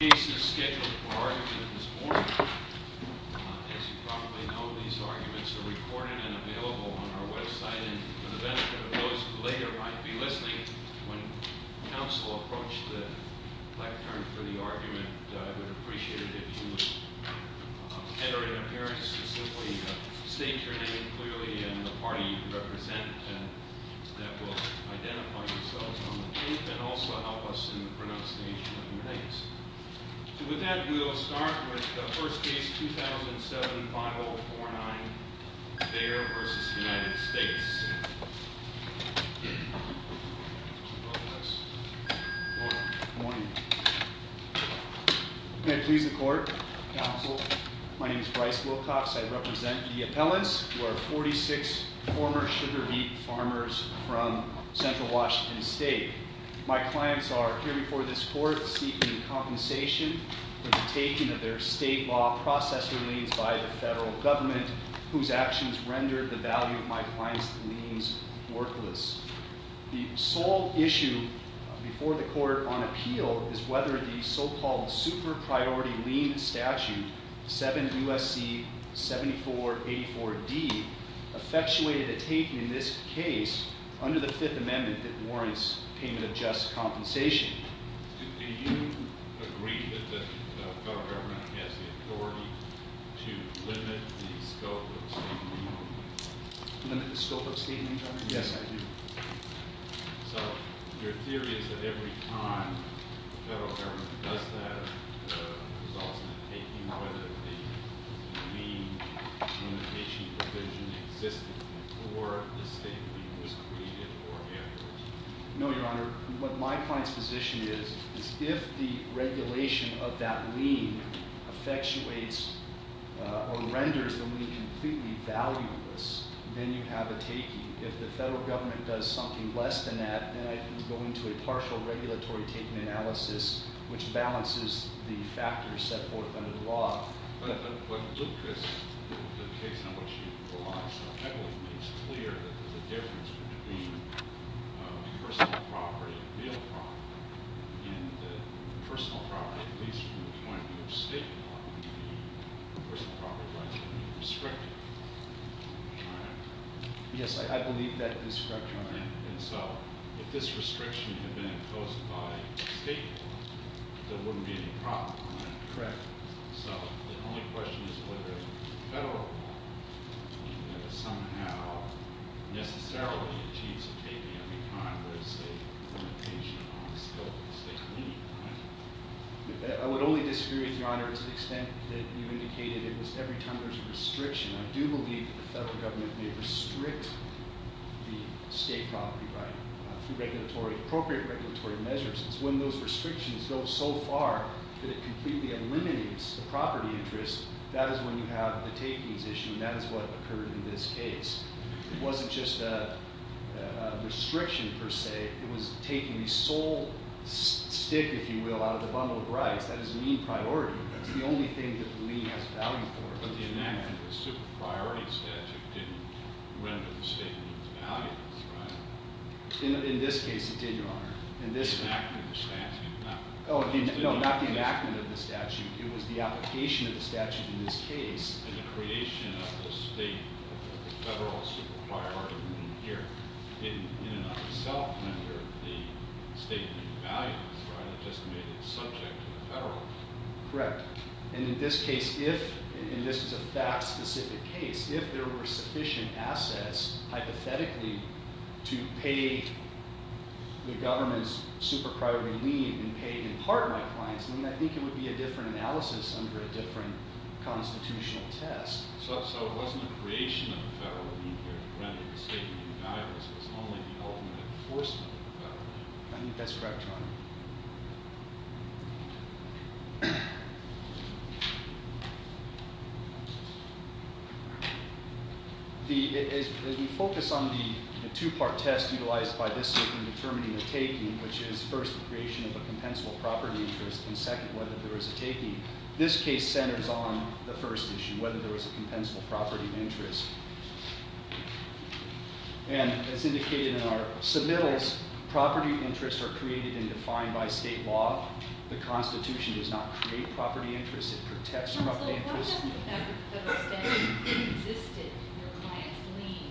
The case is scheduled for argument this morning. As you probably know, these arguments are recorded and available on our website, and for the benefit of those who later might be listening, when counsel approach the lectern for the argument, I would appreciate it if you would enter an appearance to simply state your name clearly and the party you represent, and that will identify yourselves on the tape, and also help us in the pronunciation of your names. So with that, we will start with the first case, 2007-5049, Bair v. United States. May I please the court, counsel? My name is Bryce Wilcox. I represent the appellants, who are 46 former sugar beet farmers from Central Washington State. My clients are here before this court seeking compensation for the taking of their state law processor liens by the federal government, whose actions rendered the value of my clients' liens worthless. The sole issue before the court on appeal is whether the so-called super-priority lien statute, 7 U.S.C. 7484-D, effectuated a taking in this case under the Fifth Amendment that warrants payment of just compensation. Do you agree that the federal government has the authority to limit the scope of state legal? Limit the scope of state legal? Yes, I do. So your theory is that every time the federal government does that, it results in a taking, whether the lien limitation provision existed before the state lien was created or afterwards. No, Your Honor. What my client's position is, is if the regulation of that lien effectuates or renders the lien completely valueless, then you have a taking. If the federal government does something less than that, then I can go into a partial regulatory taking analysis, which balances the factors set forth under the law. But Lucas, the case on which you relied so heavily, makes clear that there's a difference between personal property and real property. And personal property, at least from the point of view of state law, would be a personal property violation when you restrict it. Yes, I believe that is correct, Your Honor. And so if this restriction had been imposed by state law, there wouldn't be any problem, right? Correct. So the only question is whether the federal law somehow necessarily achieves a taking every time there is a limitation on the scope of the state lien, right? I would only disagree with Your Honor to the extent that you indicated it was every time there's a restriction. I do believe that the federal government may restrict the state property right through appropriate regulatory measures. It's when those restrictions go so far that it completely eliminates the property interest, that is when you have the takings issue, and that is what occurred in this case. It wasn't just a restriction, per se. It was taking the sole stick, if you will, out of the bundle of rights. That is a lien priority. That's the only thing that the lien has value for. But the enactment of the super priority statute didn't render the state lien's value, right? In this case, it did, Your Honor. The enactment of the statute. No, not the enactment of the statute. It was the application of the statute in this case. And the creation of the state federal super priority lien here didn't in and of itself render the state lien's value, right? It just made it subject to the federal. Correct. And in this case, if, and this is a fact-specific case, if there were sufficient assets, hypothetically, to pay the government's super priority lien and pay in part my clients, I mean, I think it would be a different analysis under a different constitutional test. So it wasn't the creation of the federal lien here that rendered the state lien's value. It was only the ultimate enforcement of the federal lien. I think that's correct, Your Honor. As we focus on the two-part test utilized by this circuit in determining the taking, which is, first, the creation of a compensable property interest, and second, whether there is a taking, this case centers on the first issue, whether there is a compensable property interest. And as indicated in our submittals, property interests are created and defined by state law. The Constitution does not create property interests. It protects property interests. Counsel, why doesn't the fact that a statute existed in your client's lien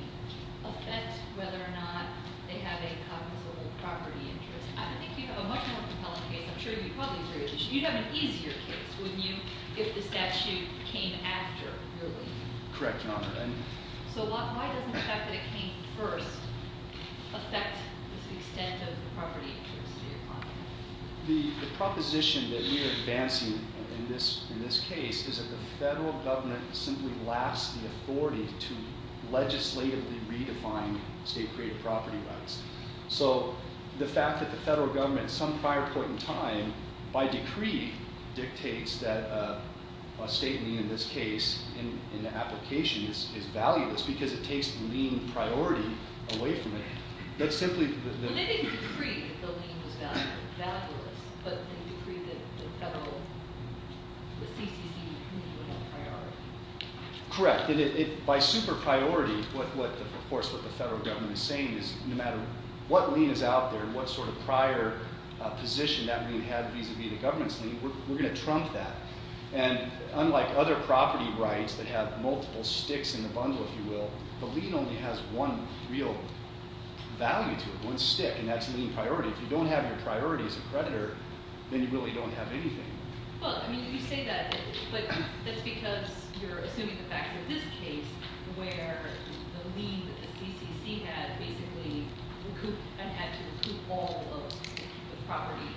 affect whether or not they have a compensable property interest? I would think you'd have a much more compelling case. I'm sure you'd probably agree. You'd have an easier case, wouldn't you, if the statute came after, really? Correct, Your Honor. So why doesn't the fact that it came first affect the extent of the property interest in your client? The proposition that we are advancing in this case is that the federal government simply lacks the authority to legislatively redefine state-created property rights. So the fact that the federal government, at some prior point in time, by decree, dictates that a state lien, in this case, in the application is valueless because it takes the lien priority away from it. Well, they didn't decree that the lien was valueless, but they decreed that the federal, the CCC would be the priority. Correct. By super-priority, of course, what the federal government is saying is no matter what lien is out there, what sort of prior position that lien had vis-a-vis the government's lien, we're going to trump that. And unlike other property rights that have multiple sticks in the bundle, if you will, the lien only has one real value to it, one stick, and that's lien priority. If you don't have your priority as a creditor, then you really don't have anything. Well, I mean, you say that, but that's because you're assuming the facts of this case where the lien that the CCC had basically had to recoup all of the property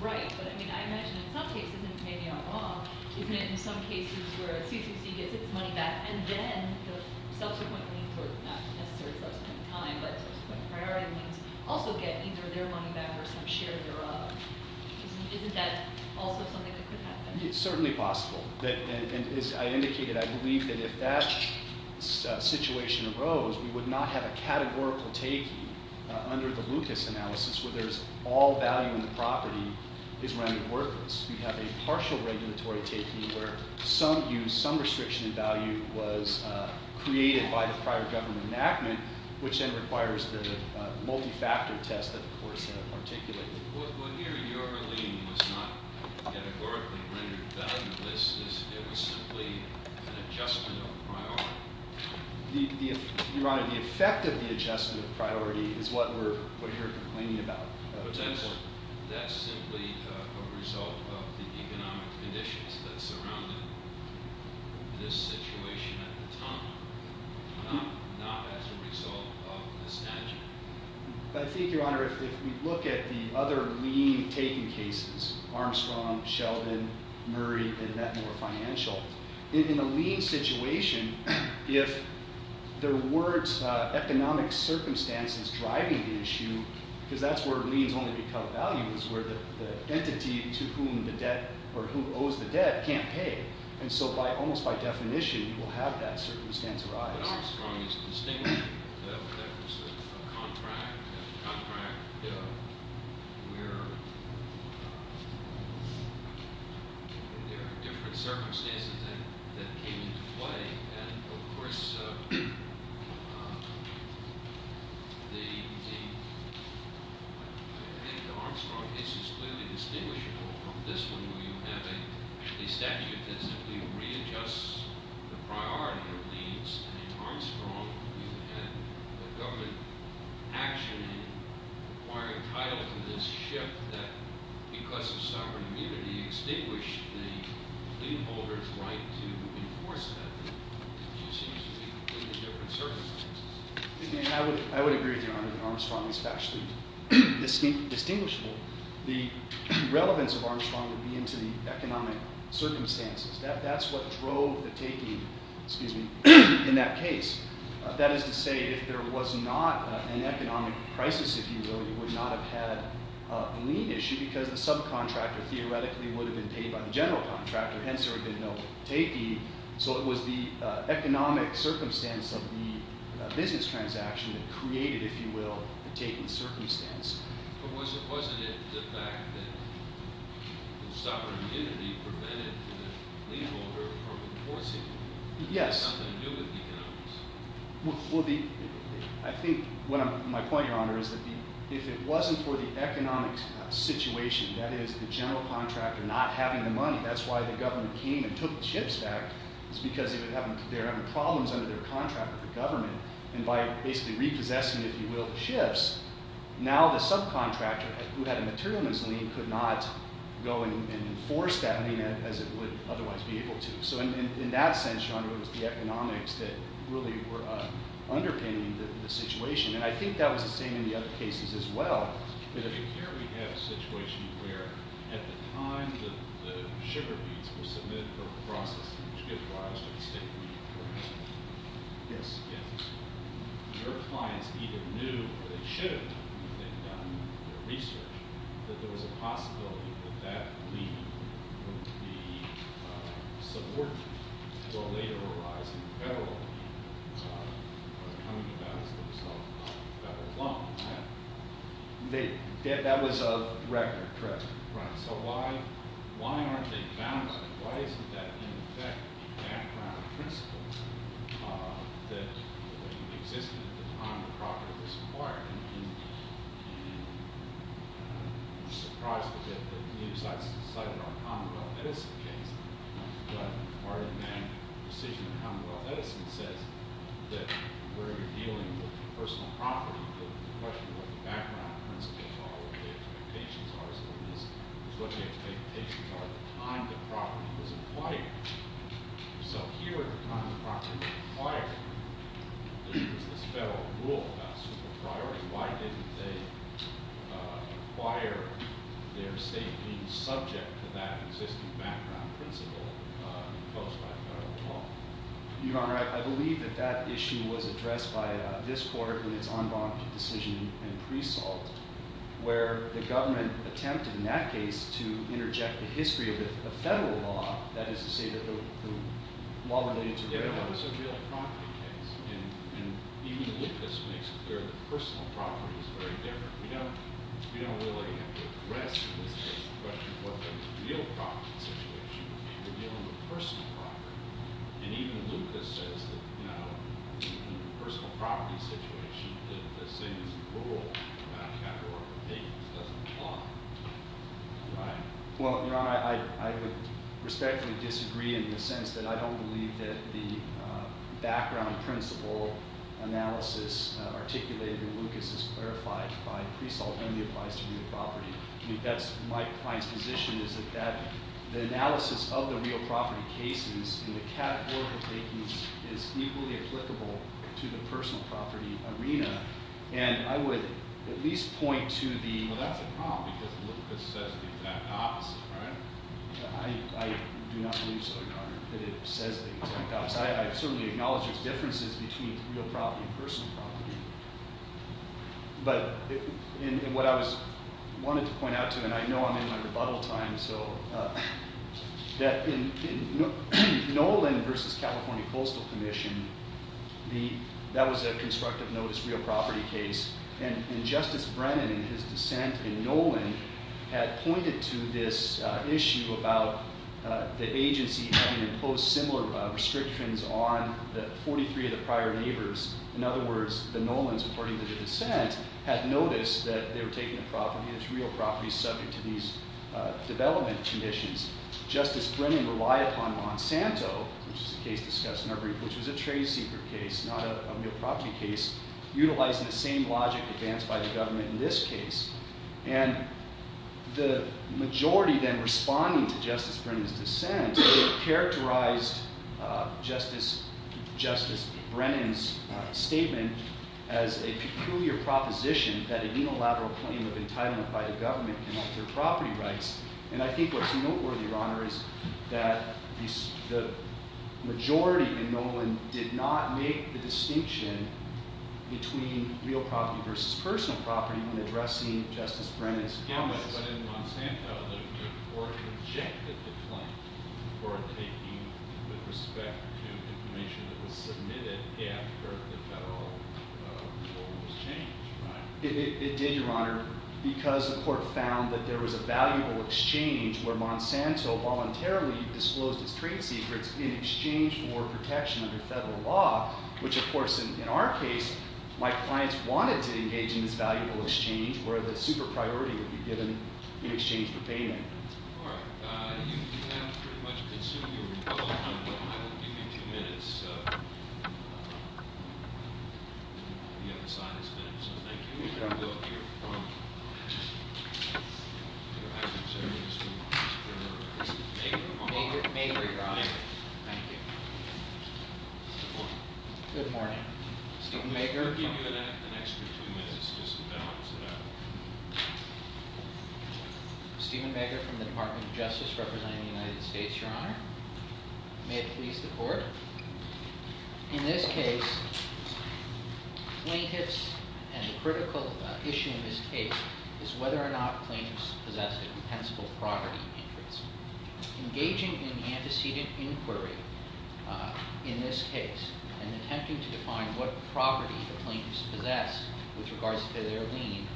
right. But, I mean, I imagine in some cases, and maybe I'm wrong, isn't it in some cases where a CCC gets its money back and then the subsequent liens, or not necessarily subsequent time, but subsequent priority liens, also get either their money back or some share thereof? Isn't that also something that could happen? It's certainly possible. And as I indicated, I believe that if that situation arose, we would not have a categorical taking under the Lucas analysis where there's all value in the property is rendered worthless. We'd have a partial regulatory taking where some use, some restriction in value, was created by the prior government enactment, which then requires the multi-factor test that the courts have articulated. Well, here, your lien was not categorically rendered valueless. It was simply an adjustment of priority. Your Honor, the effect of the adjustment of priority is what you're complaining about. Potentially, that's simply a result of the economic conditions that surrounded this situation at the time, not as a result of the statute. I think, Your Honor, if we look at the other lien-taking cases, Armstrong, Sheldon, Murray, and that more financial, in the lien situation, if there were economic circumstances driving the issue, because that's where liens only become values, where the entity to whom the debt, or who owes the debt, can't pay. And so, almost by definition, you will have that circumstance arise. But Armstrong is distinguished. That was a contract, a contract where there are different circumstances that came into play. And, of course, I think the Armstrong case is clearly distinguishable from this one where you have a statute that simply readjusts the priority of liens. And in Armstrong, you had a government action requiring title to this shift that, because of sovereign immunity, the lien holder's right to enforce that seems to be completely different circumstances. I would agree with Your Honor that Armstrong is factually distinguishable. The relevance of Armstrong would be into the economic circumstances. That's what drove the taking in that case. That is to say, if there was not an economic crisis, if you will, you would not have had a lien issue because the subcontractor, theoretically, would have been paid by the general contractor, hence there would have been no taking. So it was the economic circumstance of the business transaction that created, if you will, the taking circumstance. But wasn't it the fact that the sovereign immunity prevented the lien holder from enforcing it? It had something to do with economics. Well, I think my point, Your Honor, is that if it wasn't for the economic situation, that is, the general contractor not having the money, that's why the government came and took the shifts back, is because they were having problems under their contract with the government. And by basically repossessing, if you will, the shifts, now the subcontractor, who had a materialness lien, could not go and enforce that lien as it would otherwise be able to. So in that sense, Your Honor, it was the economics that really were underpinning the situation. And I think that was the same in the other cases as well. But here we have a situation where at the time the sugar beets were submitted for processing, which gives rise to the state lien for example. Yes. Your clients either knew, or they should have known, if they'd done their research, that there was a possibility that that lien would be subordinate to a later arising federal lien that was coming about as a result of a federal loan. That was a record, correct. Right. So why aren't they bound by that? Why isn't that in effect a background principle that existed at the time the property was acquired? And I'm surprised that the news cited our Commonwealth Edison case. But part of that decision of Commonwealth Edison says that where you're dealing with personal property, the question of what the background principles are, what the expectations are, is what the expectations are at the time the property was acquired. So here at the time the property was acquired, there's this federal rule about super priorities. Why didn't they acquire their state lien subject to that existing background principle imposed by federal law? Your Honor, I believe that that issue was addressed by this court in its unbonded decision in pre-salt, where the government attempted in that case to interject the history of the federal law, that is to say, the law related to federal law. Yeah, but it's a real property case. And even with this makes it clear that personal property is very different. We don't really have to address in this case the question of what the real property situation would be when you're dealing with personal property. And even Lucas says that in a personal property situation, that the same as the rule about capital or payments doesn't apply. Right. Well, Your Honor, I would respectfully disagree in the sense that I don't believe that the background principle analysis articulated in Lucas is clarified by pre-salt and the applies to real property. That's my client's position is that the analysis of the real property cases and the categorical takings is equally applicable to the personal property arena. And I would at least point to the- Well, that's a problem, because Lucas says the exact opposite, right? I do not believe so, Your Honor, that it says the exact opposite. I certainly acknowledge there's differences between real property and personal property. But what I wanted to point out to, and I know I'm in my rebuttal time, so that in Nolan versus California Postal Commission, that was a constructive notice real property case. And Justice Brennan, in his dissent in Nolan, had pointed to this issue about the agency having imposed similar restrictions on the 43 of the prior neighbors. In other words, the Nolans, according to the dissent, had noticed that they were taking a property, this real property, subject to these development conditions. Justice Brennan relied upon Monsanto, which is a case discussed in our brief, which was a trade secret case, not a real property case, utilizing the same logic advanced by the government in this case. And the majority then responding to Justice Brennan's dissent characterized Justice Brennan's statement as a peculiar proposition that a unilateral claim of entitlement by the government can alter property rights. And I think what's noteworthy, Your Honor, is that the majority in Nolan did not make the distinction between real property versus personal property when addressing Justice Brennan's comments. Yeah, but in Monsanto, the court rejected the claim for taking with respect to information that was submitted after the federal rule was changed, right? It did, Your Honor, because the court found that there was a valuable exchange where Monsanto voluntarily disclosed its trade secrets in exchange for protection under federal law, which, of course, in our case, my clients wanted to engage in this valuable exchange where the super priority would be given in exchange for payment. All right. You have pretty much consumed your rebuttal time, but I will give you two minutes. The other side has finished, so thank you. You can go up here. I'm sorry. This is Mager, Your Honor. Mager, Your Honor. Thank you. Good morning. Good morning. Stephen Mager. We'll give you an extra two minutes just to balance it out. Stephen Mager from the Department of Justice representing the United States, Your Honor. May it please the court? In this case, plaintiffs and the critical issue in this case is whether or not plaintiffs possess a compensable property interest. Engaging in antecedent inquiry in this case and attempting to define what property the plaintiffs possess with regards to their lien,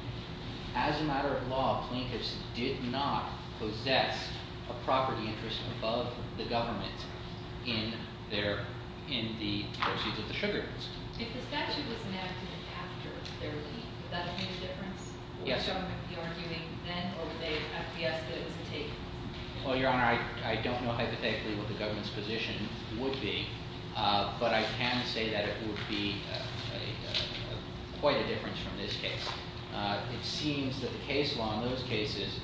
as a matter of law, plaintiffs did not possess a property interest above the government in the proceeds of the sugar. If the statute was enacted after their lien, would that have made a difference? Would the government be arguing then, or would they have to guess that it was a take? Well, Your Honor, I don't know hypothetically what the government's position would be, but I can say that it would be quite a difference from this case. It seems that the case law in those cases,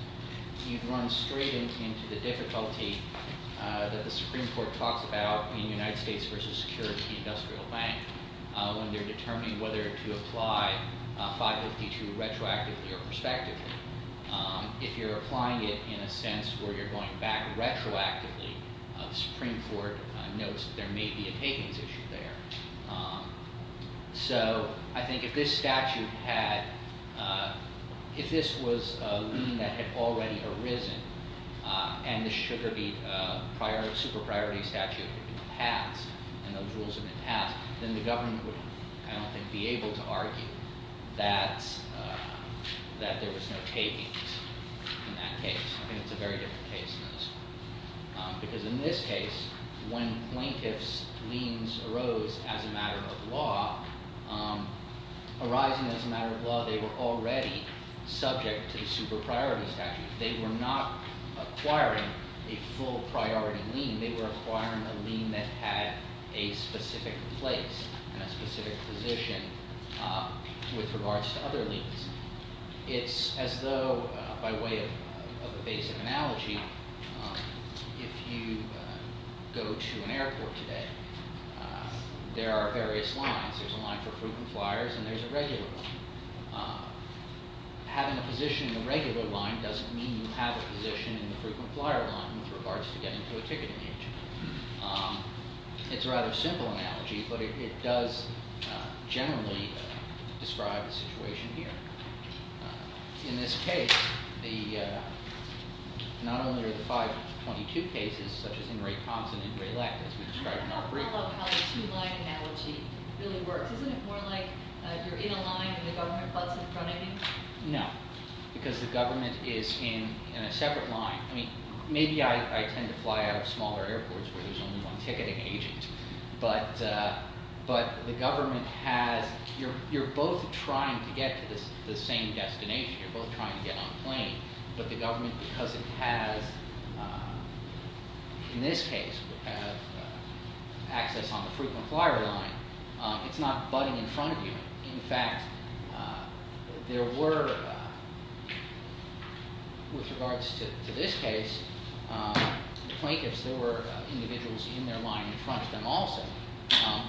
you'd run straight into the difficulty that the Supreme Court talks about in United States versus Securities and Industrial Bank when they're determining whether to apply 552 retroactively or prospectively. If you're applying it in a sense where you're going back retroactively, the Supreme Court notes that there may be a takings issue there. So I think if this statute had, if this was a lien that had already arisen and the sugar beet super priority statute had been passed and those rules had been passed, then the government would, I don't think, be able to argue that there was no takings in that case. I think it's a very different case in those. Because in this case, when plaintiff's liens arose as a matter of law, arising as a matter of law, they were already subject to the super priority statute. They were not acquiring a full priority lien. They were acquiring a lien that had a specific place and a specific position with regards to other liens. It's as though, by way of a basic analogy, if you go to an airport today, there are various lines. There's a line for frequent flyers, and there's a regular one. Having a position in the regular line doesn't mean you have a position in the frequent flyer line with regards to getting to a ticketing agent. It's a rather simple analogy, but it does generally describe the situation here. In this case, not only are the 522 cases, such as in Ray Thompson and Ray Leck, as we described in our brief. I don't follow how the two line analogy really works. Isn't it more like you're in a line and the government butts in front of you? No, because the government is in a separate line. Maybe I tend to fly out of smaller airports where there's only one ticketing agent. But the government has, you're both trying to get to the same destination. You're both trying to get on a plane. But the government, because it has, in this case, access on the frequent flyer line, it's not butting in front of you. In fact, there were, with regards to this case, plaintiffs, there were individuals in their line in front of them also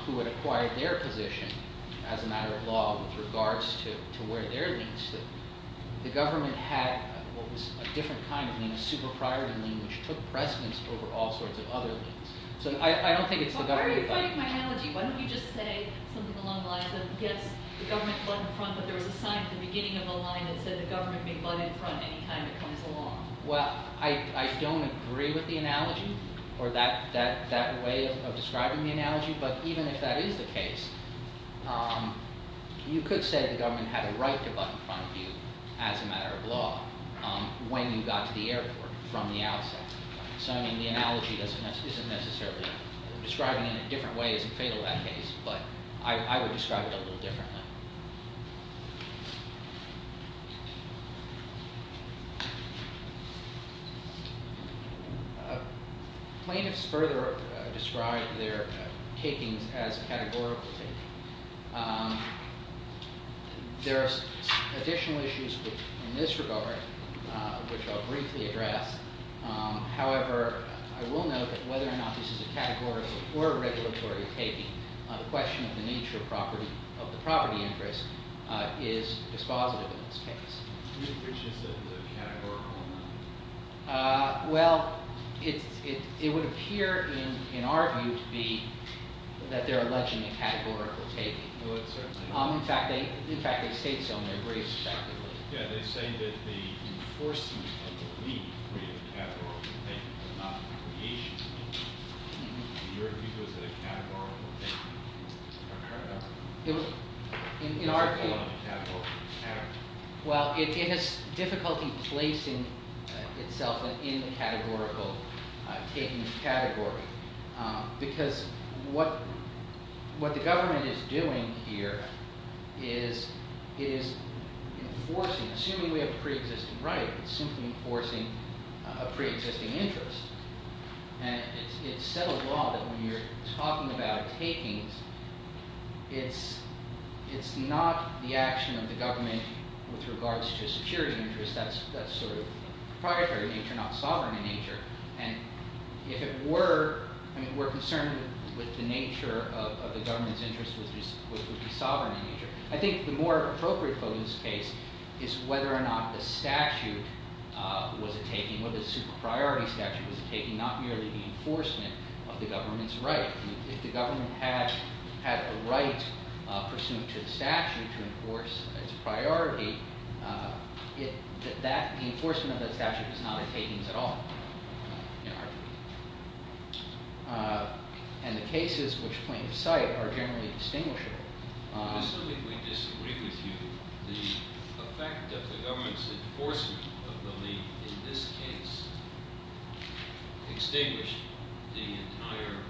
who had acquired their position as a matter of law with regards to where their liens stood. The government had what was a different kind of lien, a super-priority lien, which took precedence over all sorts of other liens. So I don't think it's the government. But why are you fighting my analogy? Why don't you just say something along the lines of, yes, the government butted in front, but there was a sign at the beginning of the line that said the government may butt in front any time it comes along. Well, I don't agree with the analogy or that way of describing the analogy. But even if that is the case, you could say that the government had a right to butt in front of you as a matter of law when you got to the airport from the outset. So, I mean, the analogy isn't necessarily describing it in a different way isn't fatal to that case, but I would describe it a little differently. Plaintiffs further describe their takings as categorical taking. There are additional issues in this regard, which I'll briefly address. However, I will note that whether or not this is a categorical or regulatory taking, the question of the nature of the property interest is dispositive in this case. Which is a categorical one? Well, it would appear, in our view, to be that they're alleging a categorical taking. It would certainly be. In fact, they state so in their briefs, effectively. Yeah, they say that the enforcement of the leak creates a categorical taking, but not the creation of it. In your view, is that a categorical taking? In our view, well, it has difficulty placing itself in the categorical taking category. Because what the government is doing here is enforcing, assuming we have a pre-existing right, it's simply enforcing a pre-existing interest. And it's set a law that when you're talking about takings, it's not the action of the government with regards to a security interest. That's sort of proprietary nature, not sovereign in nature. And if it were, I mean, we're concerned with the nature of the government's interest, which would be sovereign in nature. I think the more appropriate for this case is whether or not the statute was a taking, whether the super-priority statute was a taking, not merely the enforcement of the government's right. If the government had a right pursuant to the statute to enforce its priority, the enforcement of that statute was not a taking at all, in our view. And the cases which point of sight are generally distinguishable. I specifically disagree with you. The effect of the government's enforcement of the leak, in this case, extinguished the entire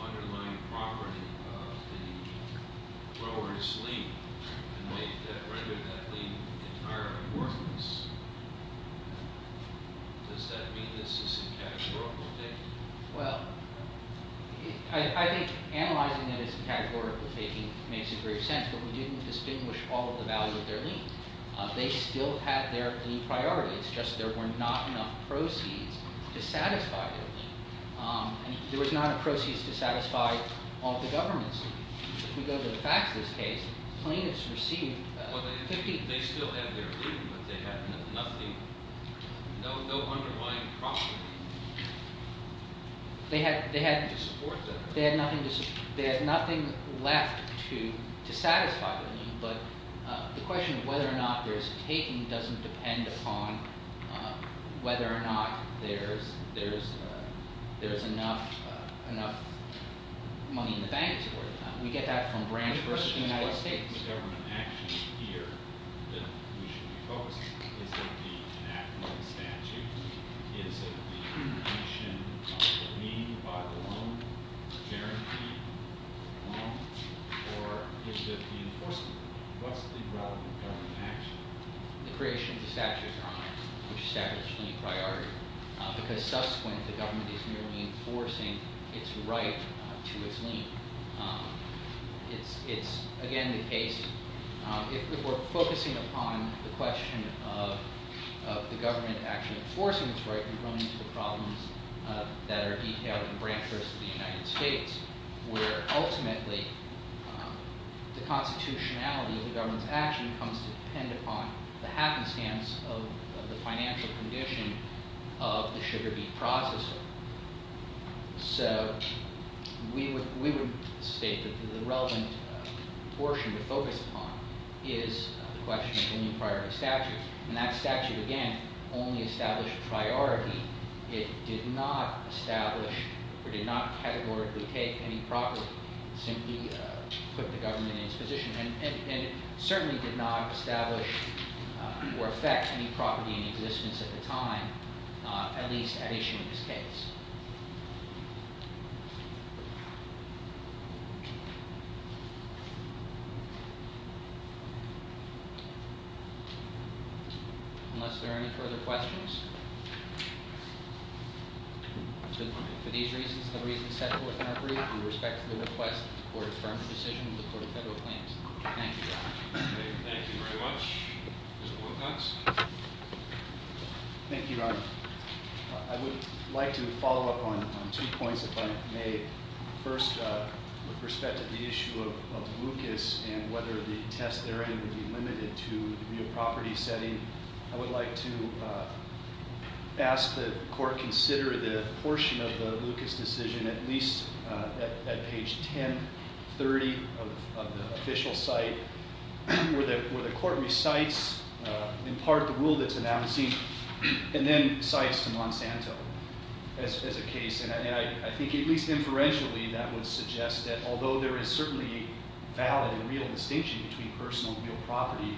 underlying property of the grower's leak. And they rendered that leak entirely worthless. Does that mean this is a categorical taking? Well, I think analyzing it as a categorical taking makes a great sense. But we didn't distinguish all of the value of their leak. They still had their leak priority. It's just there were not enough proceeds to satisfy the leak. There was not enough proceeds to satisfy all of the governments. If we go to the facts of this case, plaintiffs received 50% They still had their leak, but they had nothing, no underlying property. They had nothing left to satisfy the leak. But the question of whether or not there is a taking doesn't depend upon whether or not there is enough money in the bank to worry about. We get that from branch versus the United States. What is the government action here that we should be focusing on? Is it the enactment of the statute? Is it the commission of the leak by the loan, the guaranteed loan? Or is it the enforcement? What's the relevant government action? The creation of the statute of crimes, which established the leak priority, because subsequent the government is merely enforcing its right to its leak. It's, again, the case. If we're focusing upon the question of the government actually enforcing its right, we run into the problems that are detailed in branch versus the United States, where ultimately the constitutionality of the government's action comes to depend upon the happenstance of the financial condition of the sugar beet processor. So we would state that the relevant portion to focus upon is the question of the new priority statute. And that statute, again, only established priority. It did not establish or did not categorically take any property, simply put the government in its position. And it certainly did not establish or affect any property in existence at the time, at least at issue in this case. Unless there are any further questions. For these reasons, the reason is set forth in our brief in respect to the request for a firm decision in the Court of Federal Claims. Thank you. Thank you very much. Mr. Wilcox. by Mr. Wilcox. Two points if I may. First, with respect to the issue of Lucas and whether the test therein would be limited to the real property setting, I would like to ask the court consider the portion of the Lucas decision at least at page 1030 of the official site, where the court recites in part the rule that's announced and then cites to Monsanto as a case. And I think at least inferentially that would suggest that although there is certainly a valid and real distinction between personal and real property,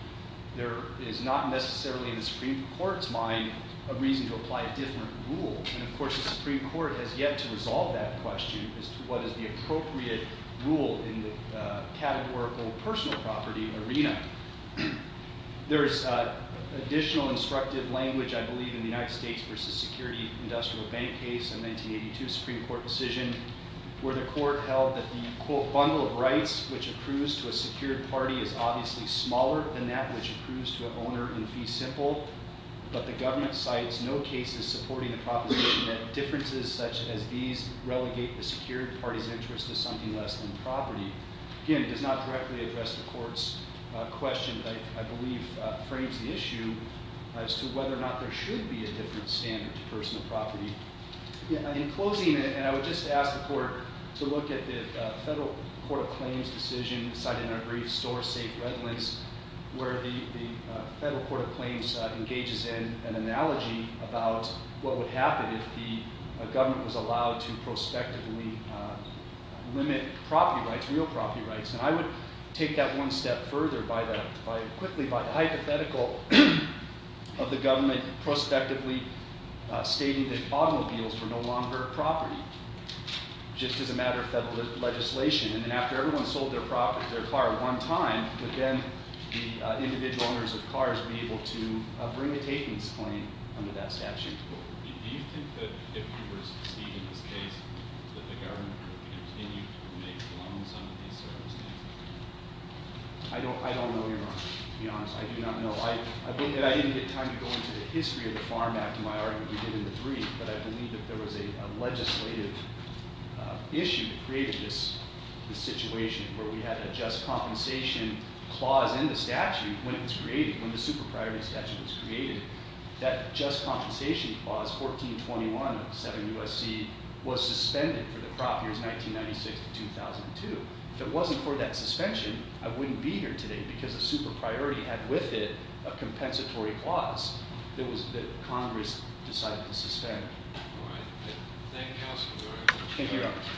there is not necessarily in the Supreme Court's mind a reason to apply a different rule. And of course the Supreme Court has yet to resolve that question as to what is the appropriate rule in the categorical personal property arena. There is additional instructive language, I believe, in the United States v. Security Industrial Bank case in the 1982 Supreme Court decision where the court held that the, quote, bundle of rights which accrues to a secured party is obviously smaller than that which accrues to an owner in fee simple, but the government cites no cases supporting the proposition that differences such as these relegate the secured party's interest to something less than property. Again, it does not directly address the court's question that I believe frames the issue as to whether or not there should be a different standard to personal property. In closing, and I would just ask the court to look at the Federal Court of Claims decision cited in our brief, Store Safe Redlands, where the Federal Court of Claims engages in an analogy about what would happen if the government was allowed to prospectively limit property rights to real property rights. And I would take that one step further quickly by the hypothetical of the government prospectively stating that automobiles were no longer a property just as a matter of federal legislation. And then after everyone sold their car one time, would then the individual owners of cars be able to bring a takings claim under that statute? Do you think that if you were to succeed in this case that the government would continue to make loans under these circumstances? I don't know, Your Honor, to be honest. I do not know. I think that I didn't get time to go into the history of the Farm Act and my argument we did in the brief, but I believe that there was a legislative issue that created this situation where we had a just compensation clause in the statute when it was created, when the super-priority statute was created. That just compensation clause, 1421 of the 7 U.S.C., was suspended for the crop years 1996 to 2002. If it wasn't for that suspension, I wouldn't be here today because the super-priority had with it a compensatory clause that Congress decided to suspend. Thank you, Your Honor.